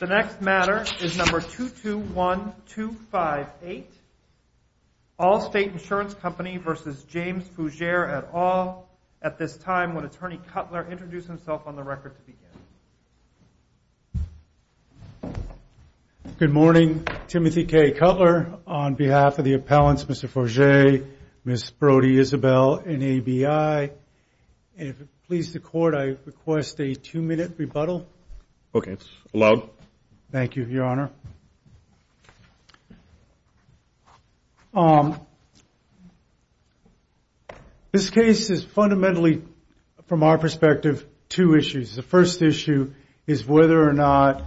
221258 Allstate Insurance Company v. James Fougere et al. Good morning, Timothy K. Cutler. On behalf of the appellants, Mr. Fougere, Ms. Brody, Isabel, and ABI. And if it pleases the court, I request a two-minute rebuttal. Okay. Allowed. Thank you, Your Honor. This case is fundamentally, from our perspective, two issues. The first issue is whether or not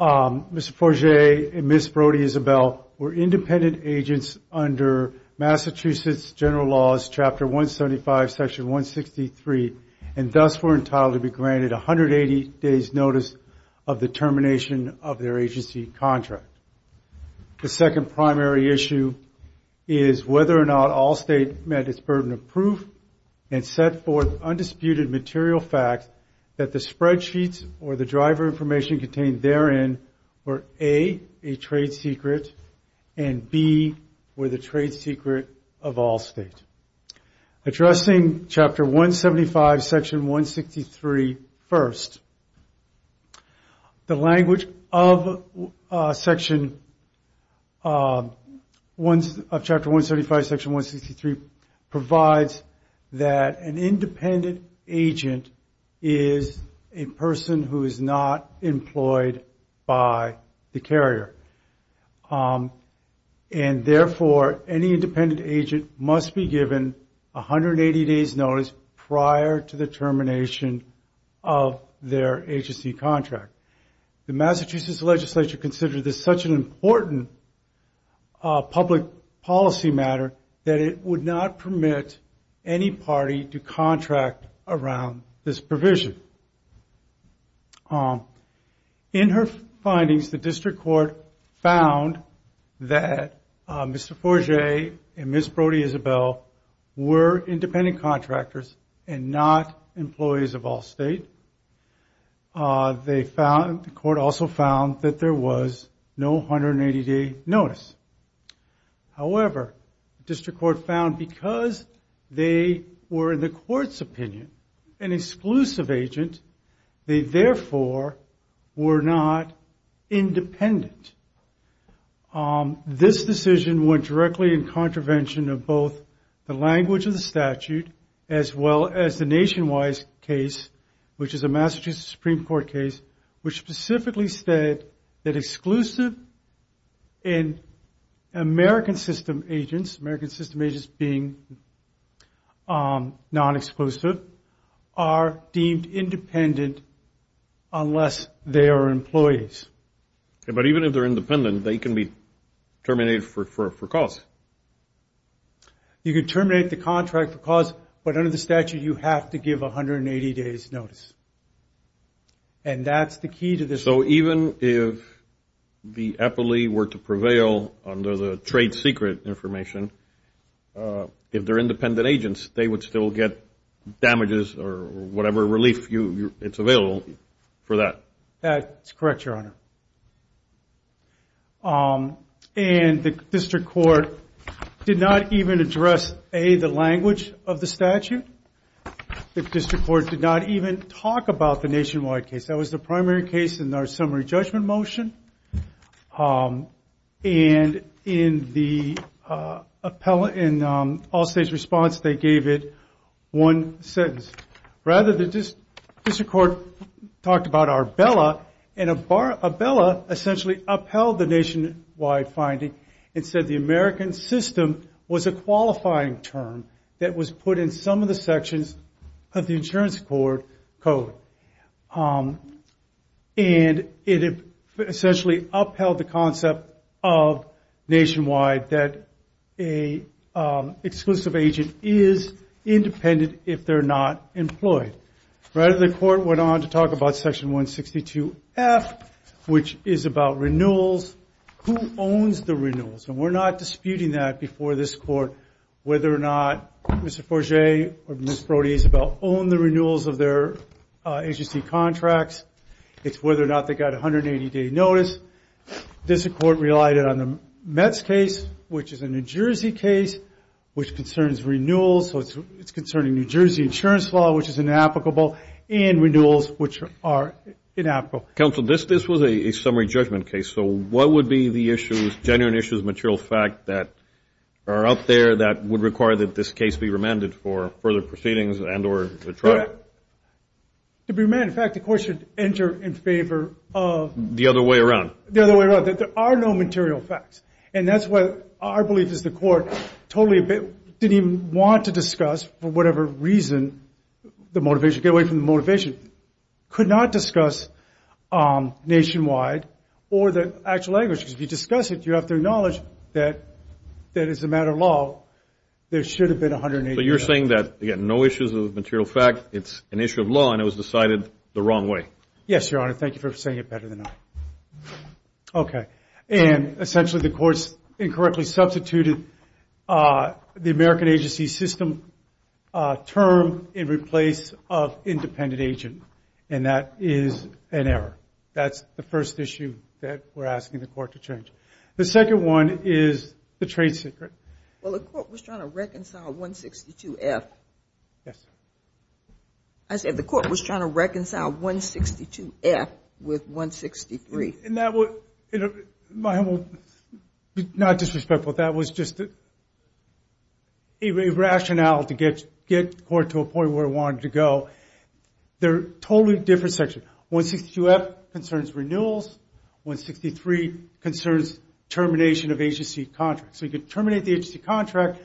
Mr. Fougere and Ms. Brody-Isabel were independent agents under Massachusetts General Laws, Chapter 175, Section 163, and thus were entitled to be granted 180 days' notice of the termination of their agency contract. The second primary issue is whether or not Allstate met its burden of proof and set forth undisputed material facts that the spreadsheets or the driver information contained therein were A, a trade secret, and B, were the trade secret of Allstate. Addressing Chapter 175, Section 163 first, the language of Section, of Chapter 175, Section 163 provides that an independent agent is a person who is not employed by the carrier. And therefore, any independent agent must be given 180 days' notice prior to the termination of their agency contract. The Massachusetts legislature considered this such an important public policy matter that it would not permit any party to contract around this provision. In her findings, the district court found that Mr. Fougere and Ms. Brody-Isabel were independent contractors and not employees of Allstate. The court also found that there was no 180-day notice. However, the district court found because they were, in the court's opinion, an exclusive agent, they therefore were not independent. This decision went directly in contravention of both the language of the statute as well as the Nationwide case, which is a Massachusetts Supreme Court case, which specifically said that exclusive and American system agents, American system agents being non-exclusive, are deemed independent unless they are employees. But even if they're independent, they can be terminated for cause. You can terminate the contract for cause, but under the statute, you have to give 180 days' notice. And that's the key to this. So even if the epily were to prevail under the trade secret information, if they're independent agents, they would still get damages or whatever relief it's available for that. That's correct, Your Honor. And the district court did not even address, A, the language of the statute. The district court did not even talk about the Nationwide case. That was the primary case in our summary judgment motion. And in all states' response, they gave it one sentence. Rather, the district court talked about Arbella, and Arbella essentially upheld the Nationwide finding and said the American system was a qualifying term that was put in some of the sections of the insurance court code. And it essentially upheld the concept of Nationwide, that an exclusive agent is independent if they're not employed. Rather, the court went on to talk about Section 162F, which is about renewals. Who owns the renewals? And we're not disputing that before this Court, whether or not Mr. Forgé or Ms. Brody Isabel own the renewals of their agency contracts. It's whether or not they got 180-day notice. This Court relied on the Mets case, which is a New Jersey case, which concerns renewals. So it's concerning New Jersey insurance law, which is inapplicable, and renewals, which are inapplicable. Counsel, this was a summary judgment case. So what would be the issues, genuine issues, material fact that are out there that would require that this case be remanded for further proceedings and or trial? To be remanded, in fact, the Court should enter in favor of The other way around. The other way around, that there are no material facts. And that's what our belief is the Court totally didn't even want to discuss, for whatever reason, the motivation, get away from the motivation, could not discuss nationwide or the actual language. Because if you discuss it, you have to acknowledge that as a matter of law, there should have been 180-day notice. So you're saying that, again, no issues of material fact. It's an issue of law, and it was decided the wrong way. Yes, Your Honor. Thank you for saying it better than I. Okay. And essentially, the Court incorrectly substituted the American agency system term in replace of independent agent. And that is an error. That's the first issue that we're asking the Court to change. The second one is the trade secret. Well, the Court was trying to reconcile 162F. Yes. I said the Court was trying to reconcile 162F with 163. And that would, my humble, not disrespectful, that was just a rationale to get the Court to a point where it wanted to go. They're totally different sections. 162F concerns renewals. 163 concerns termination of agency contracts. So you could terminate the agency contract.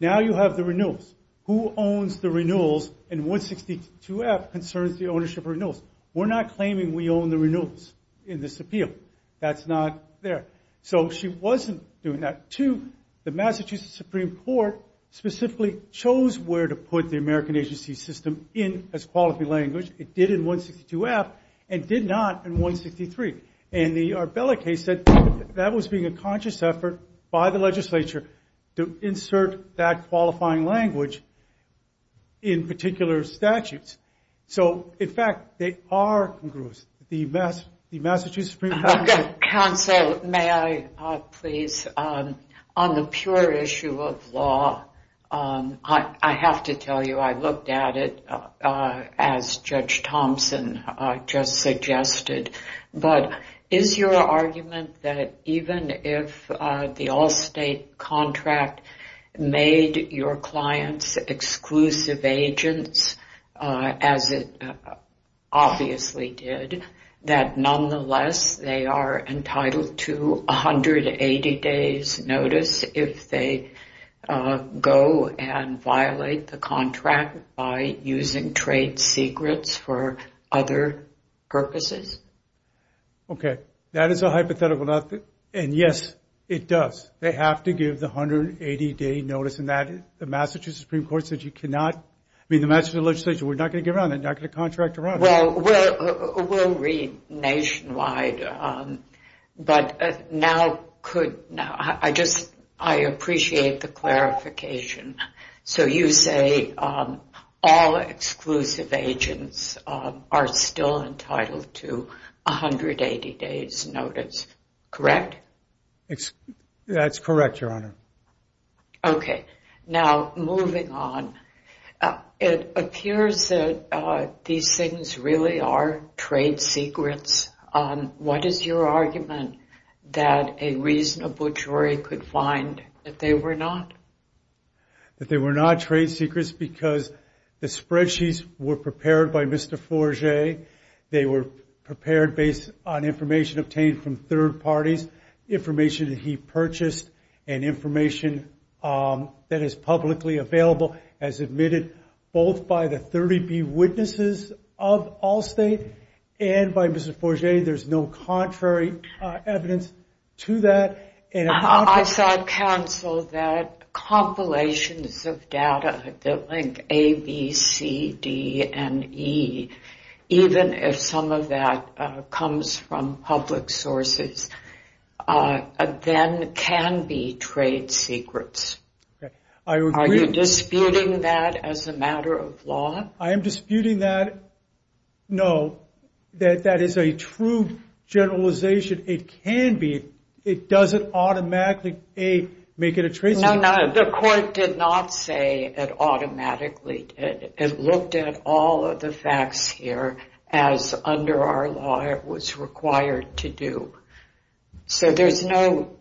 Now you have the renewals. Who owns the renewals? And 162F concerns the ownership of renewals. We're not claiming we own the renewals in this appeal. That's not there. So she wasn't doing that. Two, the Massachusetts Supreme Court specifically chose where to put the American agency system in as quality language. It did in 162F and did not in 163. And the Arbella case said that was being a conscious effort by the legislature to insert that qualifying language in particular statutes. So, in fact, they are congruous. The Massachusetts Supreme Court. Counsel, may I, please? On the pure issue of law, I have to tell you I looked at it, as Judge Thompson just suggested. But is your argument that even if the all-state contract made your clients exclusive agents, as it obviously did, that nonetheless they are entitled to 180 days notice if they go and violate the contract by using trade secrets for other purposes? Okay, that is a hypothetical. And, yes, it does. They have to give the 180-day notice. And the Massachusetts Supreme Court said you cannot. I mean, the Massachusetts legislature said we're not going to give it, we're not going to contract her on it. Well, we'll read nationwide. But now I appreciate the clarification. So you say all exclusive agents are still entitled to 180 days notice, correct? That's correct, Your Honor. Okay. Now, moving on, it appears that these things really are trade secrets. What is your argument that a reasonable jury could find that they were not? That they were not trade secrets because the spreadsheets were prepared by Mr. Forgé. They were prepared based on information obtained from third parties, information that he purchased, and information that is publicly available as admitted both by the 30B witnesses of Allstate and by Mr. Forgé. There's no contrary evidence to that. I saw counsel that compilations of data that link A, B, C, D, and E, even if some of that comes from public sources, then can be trade secrets. Are you disputing that as a matter of law? I am disputing that. No, that is a true generalization. It can be. It doesn't automatically, A, make it a trade secret. No, no, the court did not say it automatically. It looked at all of the facts here as under our law it was required to do. So there's no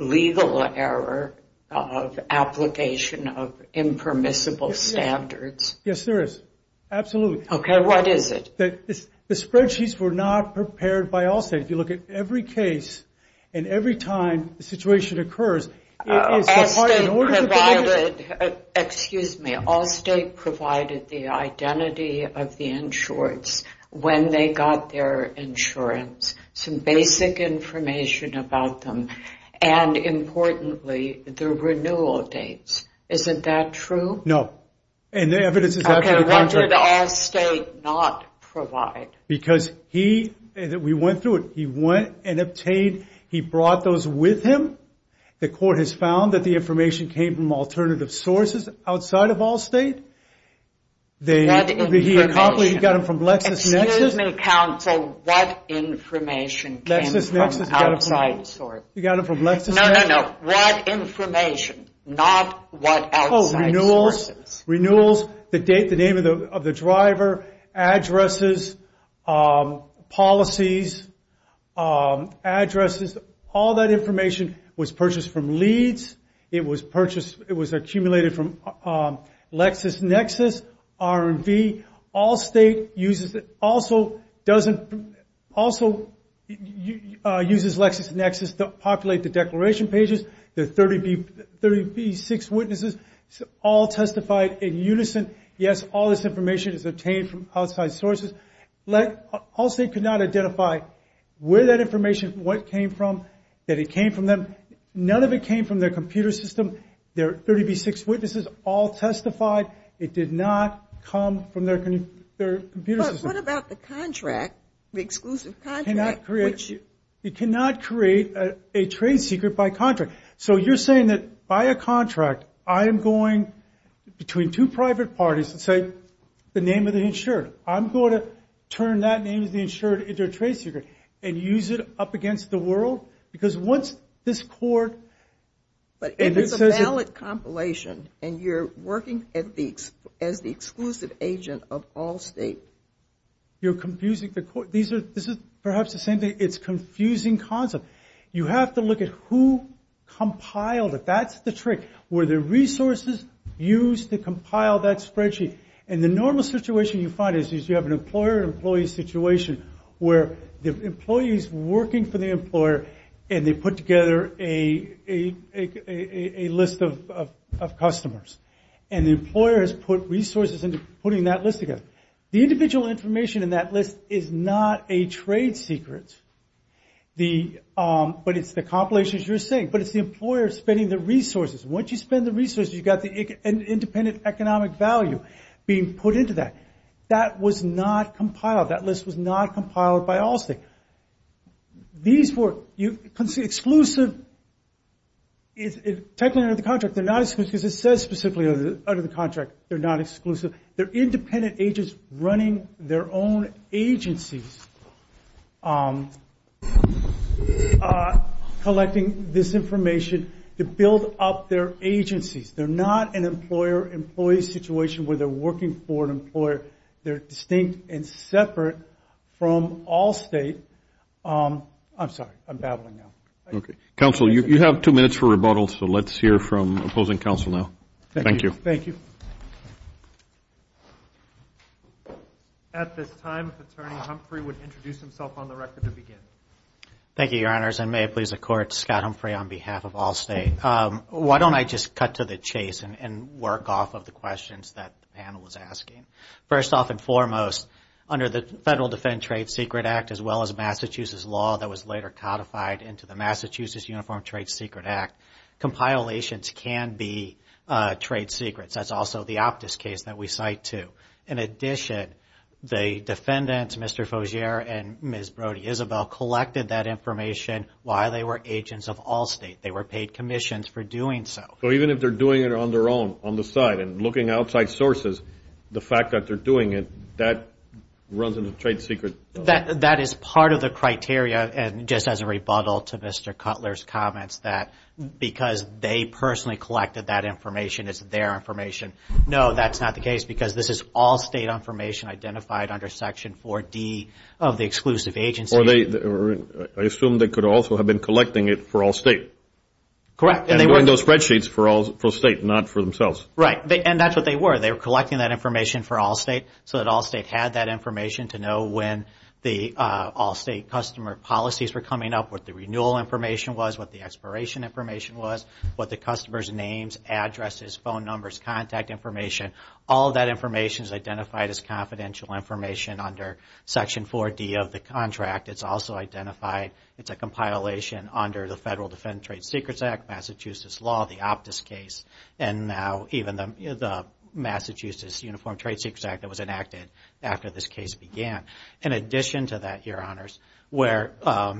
legal error of application of impermissible standards. Yes, there is. Absolutely. Okay, what is it? The spreadsheets were not prepared by Allstate. If you look at every case and every time the situation occurs, Allstate provided the identity of the insurance when they got their insurance, some basic information about them, and importantly, the renewal dates. Isn't that true? No, and the evidence is absolutely contrary. Okay, what did Allstate not provide? Because he, we went through it, he went and obtained, he brought those with him. The court has found that the information came from alternative sources outside of Allstate. What information? He got them from LexisNexis. Excuse me, counsel, what information came from outside? LexisNexis got them from LexisNexis. No, no, no, what information, not what outside sources? Oh, renewals, the date, the name of the driver, addresses, policies, addresses, all that information was purchased from Leeds. It was purchased, it was accumulated from LexisNexis, R&V. Allstate uses, also uses LexisNexis to populate the declaration pages. The 30B6 witnesses all testified in unison. Yes, all this information is obtained from outside sources. Allstate could not identify where that information, what it came from, that it came from them. None of it came from their computer system. Their 30B6 witnesses all testified. It did not come from their computer system. But what about the contract, the exclusive contract? It cannot create a trade secret by contract. So you're saying that by a contract, I am going between two private parties and say the name of the insured. I'm going to turn that name of the insured into a trade secret and use it up against the world? Because once this court... But if it's a valid compilation and you're working as the exclusive agent of Allstate... You're confusing the court. This is perhaps the same thing, it's a confusing concept. You have to look at who compiled it, that's the trick. Were there resources used to compile that spreadsheet? And the normal situation you find is you have an employer-employee situation where the employee is working for the employer and they put together a list of customers. And the employer has put resources into putting that list together. The individual information in that list is not a trade secret. But it's the compilations you're saying. But it's the employer spending the resources. Once you spend the resources, you've got an independent economic value being put into that. That was not compiled. That list was not compiled by Allstate. These were exclusive... Technically under the contract, they're not exclusive because it says specifically under the contract they're not exclusive. They're independent agents running their own agencies collecting this information to build up their agencies. They're not an employer-employee situation where they're working for an employer. They're distinct and separate from Allstate. I'm sorry, I'm babbling now. Okay. Counsel, you have two minutes for rebuttal, so let's hear from opposing counsel now. Thank you. Thank you. At this time, Attorney Humphrey would introduce himself on the record to begin. Thank you, Your Honors. And may it please the Court, Scott Humphrey on behalf of Allstate. Why don't I just cut to the chase and work off of the questions that the panel was asking. First off and foremost, under the Federal Defend Trade Secret Act, as well as Massachusetts law that was later codified into the Massachusetts Uniform Trade Secret Act, compilations can be trade secrets. That's also the Optus case that we cite, too. In addition, the defendants, Mr. Faugere and Ms. Brody-Isabel, collected that information while they were agents of Allstate. They were paid commissions for doing so. So even if they're doing it on their own, on the side, and looking at outside sources, the fact that they're doing it, that runs in the trade secret? That is part of the criteria, and just as a rebuttal to Mr. Cutler's comments, that because they personally collected that information, it's their information. No, that's not the case, because this is Allstate information identified under Section 4D of the Exclusive Agency. I assume they could also have been collecting it for Allstate. Correct. And they were in those spreadsheets for Allstate, not for themselves. Right, and that's what they were. They were collecting that information for Allstate so that Allstate had that information to know when the Allstate customer policies were coming up, what the renewal information was, what the expiration information was, what the customer's names, addresses, phone numbers, contact information, all that information is identified as confidential information under Section 4D of the contract. It's also identified, it's a compilation under the Federal Defense Trade Secrets Act, Massachusetts law, the Optus case, and now even the Massachusetts Uniform Trade Secrets Act that was enacted after this case began. In addition to that, Your Honors, where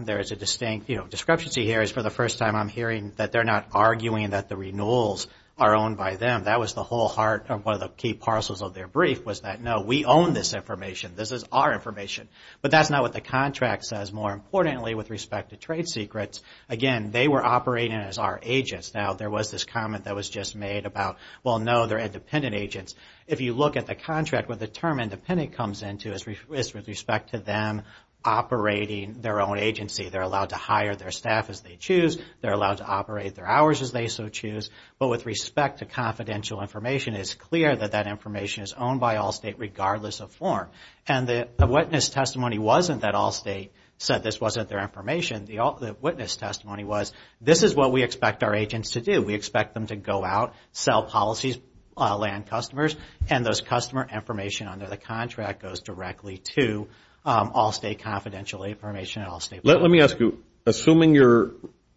there is a distinct, you know, discrepancy here is for the first time I'm hearing that they're not arguing that the renewals are owned by them. That was the whole heart of one of the key parcels of their brief was that, no, we own this information. This is our information. But that's not what the contract says. More importantly, with respect to trade secrets, again, they were operating as our agents. Now, there was this comment that was just made about, well, no, they're independent agents. If you look at the contract where the term independent comes into is with respect to them operating their own agency. They're allowed to hire their staff as they choose. They're allowed to operate their hours as they so choose. But with respect to confidential information, it's clear that that information is owned by Allstate regardless of form. And the witness testimony wasn't that Allstate said this wasn't their information. The witness testimony was, this is what we expect our agents to do. We expect them to go out, sell policies, land customers, and those customer information under the contract goes directly to Allstate confidential information at Allstate. Let me ask you, assuming you're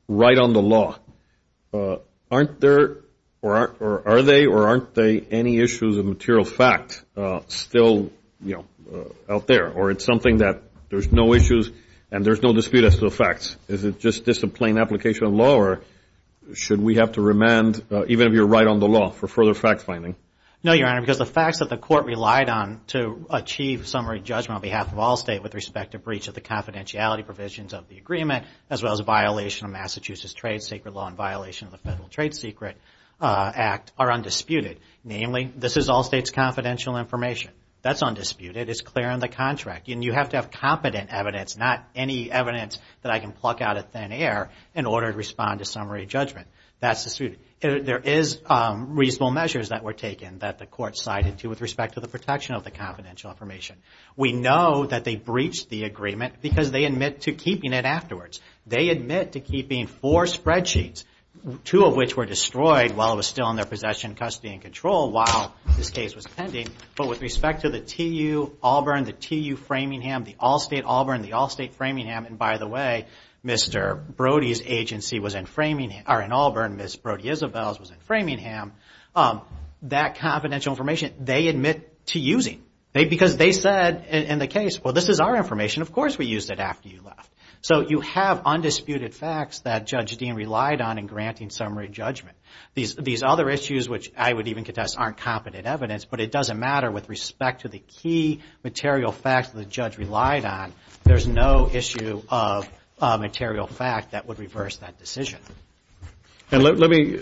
right on the law, aren't there or are they or aren't they any issues of material fact still, you know, out there? Or it's something that there's no issues and there's no dispute as to the facts? Is it just a plain application of law or should we have to remand even if you're right on the law for further fact-finding? No, Your Honor, because the facts that the court relied on to achieve summary judgment on behalf of Allstate with respect to breach of the confidentiality provisions of the agreement as well as a violation of Massachusetts trade secret law and violation of the Federal Trade Secret Act are undisputed. Namely, this is Allstate's confidential information. That's undisputed. It's clear on the contract. And you have to have competent evidence, not any evidence that I can pluck out of thin air in order to respond to summary judgment. That's disputed. There is reasonable measures that were taken that the court sided to with respect to the protection of the confidential information. We know that they breached the agreement because they admit to keeping it afterwards. They admit to keeping four spreadsheets, two of which were destroyed while it was still in their possession, custody, and control while this case was pending. But with respect to the TU-Auburn, the TU-Framingham, the Allstate-Auburn, the Allstate-Framingham, and by the way, Mr. Brody's agency was in Framingham or in Auburn, Ms. Brody Isabel's was in Framingham. That confidential information, they admit to using. Because they said in the case, well, this is our information, of course we used it after you left. So you have undisputed facts that Judge Dean relied on in granting summary judgment. These other issues, which I would even contest, aren't competent evidence, but it doesn't matter with respect to the key material facts that the judge relied on. There's no issue of material fact that would reverse that decision. Let me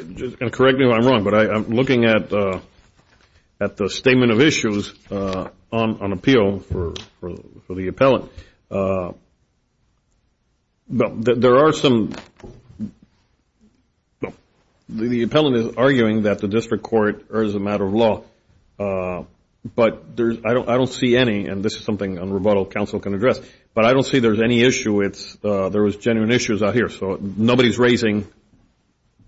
correct me if I'm wrong, but I'm looking at the statement of issues on appeal for the appellant. There are some, the appellant is arguing that the district court is a matter of law, but I don't see any, and this is something a rebuttal counsel can address, but I don't see there's any issue, there was genuine issues out here. So nobody's raising,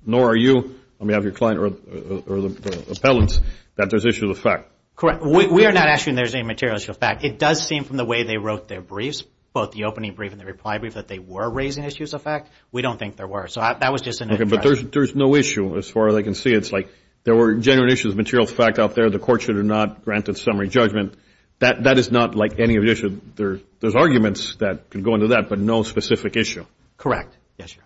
nor are you, let me have your client or the appellants, that there's issues of fact. Correct. We are not asking there's any material issue of fact. It does seem from the way they wrote their briefs, both the opening brief and the reply brief, that they were raising issues of fact. We don't think there were, so that was just an impression. Okay, but there's no issue as far as I can see. It's like there were genuine issues of material fact out there. The court should have not granted summary judgment. That is not like any other issue. There's arguments that can go into that, but no specific issue. Correct. Yes, Your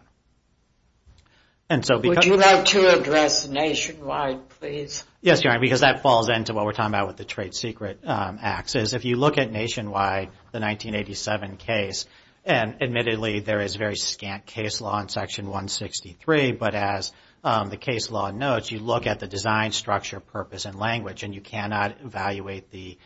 Honor. Would you like to address Nationwide, please? Yes, Your Honor, because that falls into what we're talking about with the trade secret acts. If you look at Nationwide, the 1987 case, and admittedly there is very scant case law in Section 163, but as the case law notes, you look at the design, structure, purpose, and language, and you cannot evaluate the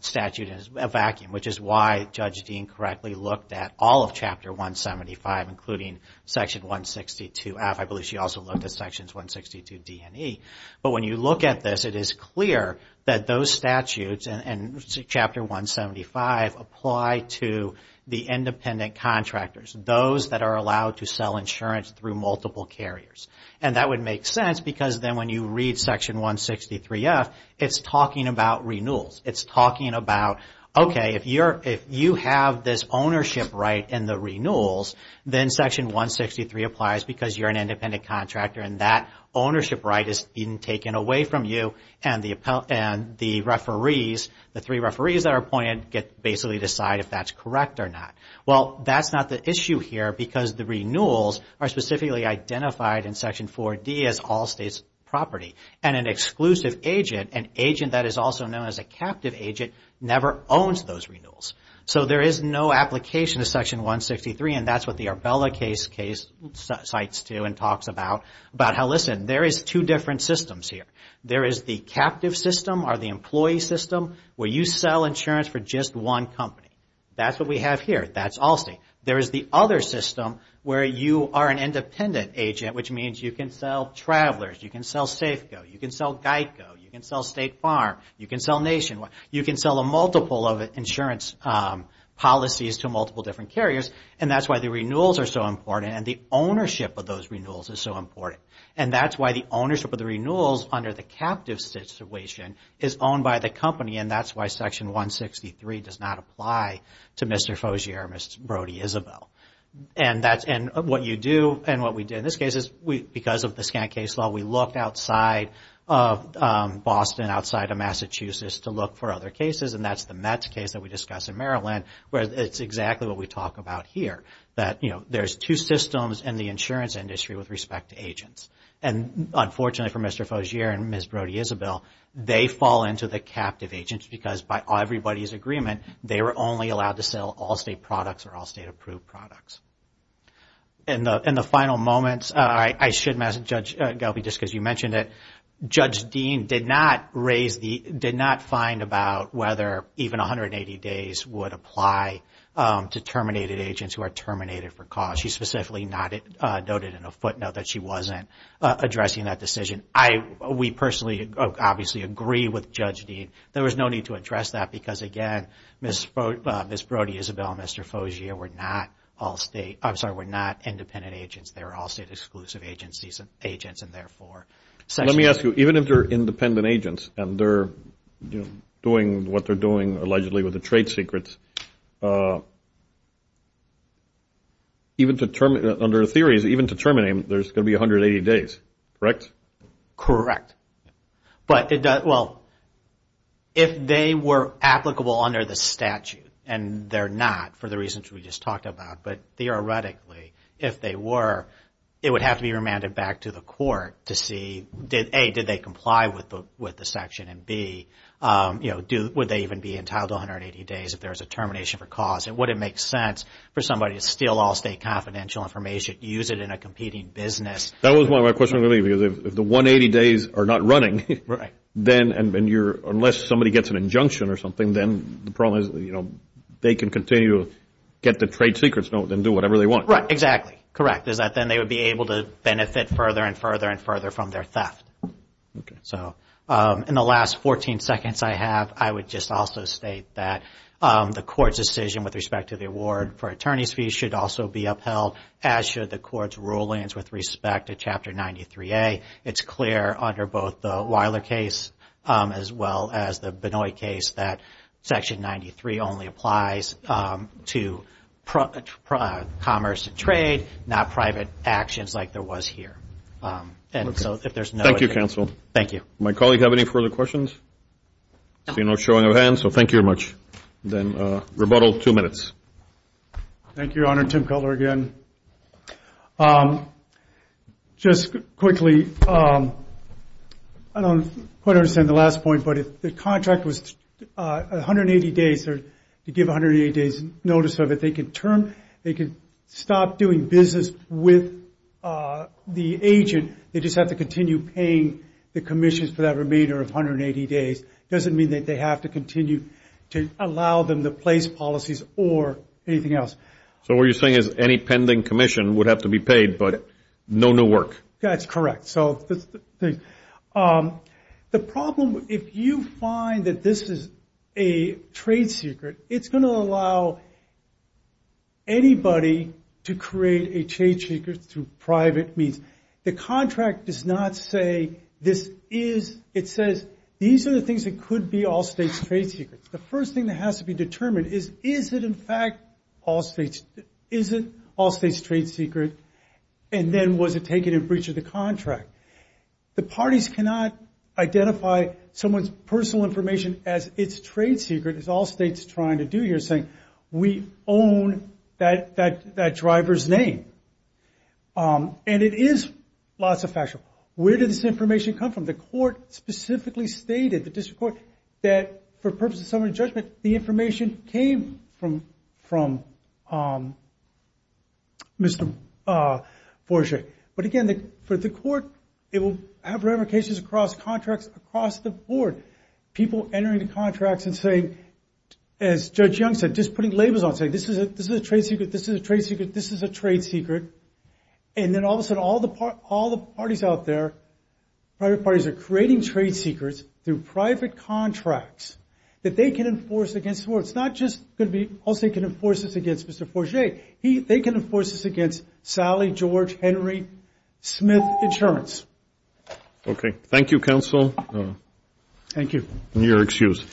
statute in a vacuum, which is why Judge Dean correctly looked at all of Chapter 175, including Section 162F. I believe she also looked at Sections 162D and E. But when you look at this, it is clear that those statutes and Chapter 175 apply to the independent contractors, those that are allowed to sell insurance through multiple carriers. And that would make sense because then when you read Section 163F, it's talking about renewals. It's talking about, okay, if you have this ownership right in the renewals, then Section 163 applies because you're an independent contractor and that ownership right is taken away from you, and the referees, the three referees that are appointed, basically decide if that's correct or not. Well, that's not the issue here because the renewals are specifically identified in Section 4D as all states' property. And an exclusive agent, an agent that is also known as a captive agent, never owns those renewals. So there is no application to Section 163, and that's what the Arbella case cites to and talks about, about how, listen, there is two different systems here. There is the captive system or the employee system where you sell insurance for just one company. That's what we have here. That's all state. There is the other system where you are an independent agent, which means you can sell Travelers. You can sell Safeco. You can sell Geico. You can sell State Farm. You can sell Nationwide. You can sell a multiple of insurance policies to multiple different carriers, and that's why the renewals are so important and the ownership of those renewals is so important. And that's why the ownership of the renewals under the captive situation is owned by the company, and that's why Section 163 does not apply to Mr. Faugere or Ms. Brody-Isabel. And what you do and what we did in this case is, because of the Scant case law, we looked outside of Boston, outside of Massachusetts, to look for other cases, and that's the Met's case that we discussed in Maryland where it's exactly what we talk about here, that there's two systems in the insurance industry with respect to agents. And unfortunately for Mr. Faugere and Ms. Brody-Isabel, they fall into the captive agents because by everybody's agreement, they were only allowed to sell Allstate products or Allstate-approved products. In the final moments, I should mention, Judge Gelby, just because you mentioned it, Judge Dean did not raise the, did not find about whether even 180 days would apply to terminated agents who are terminated for cause. She specifically noted in a footnote that she wasn't addressing that decision. We personally obviously agree with Judge Dean. There was no need to address that because, again, Ms. Brody-Isabel and Mr. Faugere were not Allstate, I'm sorry, were not independent agents. They were Allstate-exclusive agents and therefore. Let me ask you, even if they're independent agents and they're doing what they're doing allegedly with the trade secrets, even to term, under theories, even to terminate them, there's going to be 180 days, correct? Correct. But, well, if they were applicable under the statute, and they're not for the reasons we just talked about, but theoretically, if they were, it would have to be remanded back to the court to see, A, did they comply with the section? And, B, would they even be entitled to 180 days if there was a termination for cause? And would it make sense for somebody to steal Allstate confidential information, use it in a competing business? That was my question, because if the 180 days are not running, then unless somebody gets an injunction or something, then the problem is they can continue to get the trade secrets and do whatever they want. Right, exactly, correct, is that then they would be able to benefit further and further and further from their theft. Okay. So in the last 14 seconds I have, I would just also state that the court's decision with respect to the award for attorney's fees should also be upheld, as should the court's rulings with respect to Chapter 93A. It's clear under both the Weiler case as well as the Benoit case that Section 93 only applies to commerce and trade, not private actions like there was here. Thank you, counsel. Thank you. Does my colleague have any further questions? I see no showing of hands, so thank you very much. Then rebuttal, two minutes. Thank you, Your Honor. Tim Cutler again. Just quickly, I don't quite understand the last point, but if the contract was 180 days or to give 180 days notice of it, they could stop doing business with the agent, they just have to continue paying the commissions for that remainder of 180 days. It doesn't mean that they have to continue to allow them to replace policies or anything else. So what you're saying is any pending commission would have to be paid, but no new work. That's correct. The problem, if you find that this is a trade secret, it's going to allow anybody to create a trade secret through private means. The contract does not say this is. It says these are the things that could be all states' trade secrets. The first thing that has to be determined is, is it in fact all states' trade secret, and then was it taken in breach of the contract? The parties cannot identify someone's personal information as its trade secret, as all states are trying to do here, saying we own that driver's name. And it is lots of factual. Where did this information come from? The court specifically stated, the district court, that for purposes of summary judgment, the information came from Mr. Borges. But again, for the court, it will have ramifications across contracts across the board. People entering the contracts and saying, as Judge Young said, just putting labels on saying this is a trade secret, this is a trade secret, this is a trade secret. And then all of a sudden, all the parties out there, private parties are creating trade secrets through private contracts that they can enforce against the board. It's not just going to be all states can enforce this against Mr. Borges. They can enforce this against Sally, George, Henry, Smith Insurance. Okay. Thank you, counsel. Thank you. You're excused.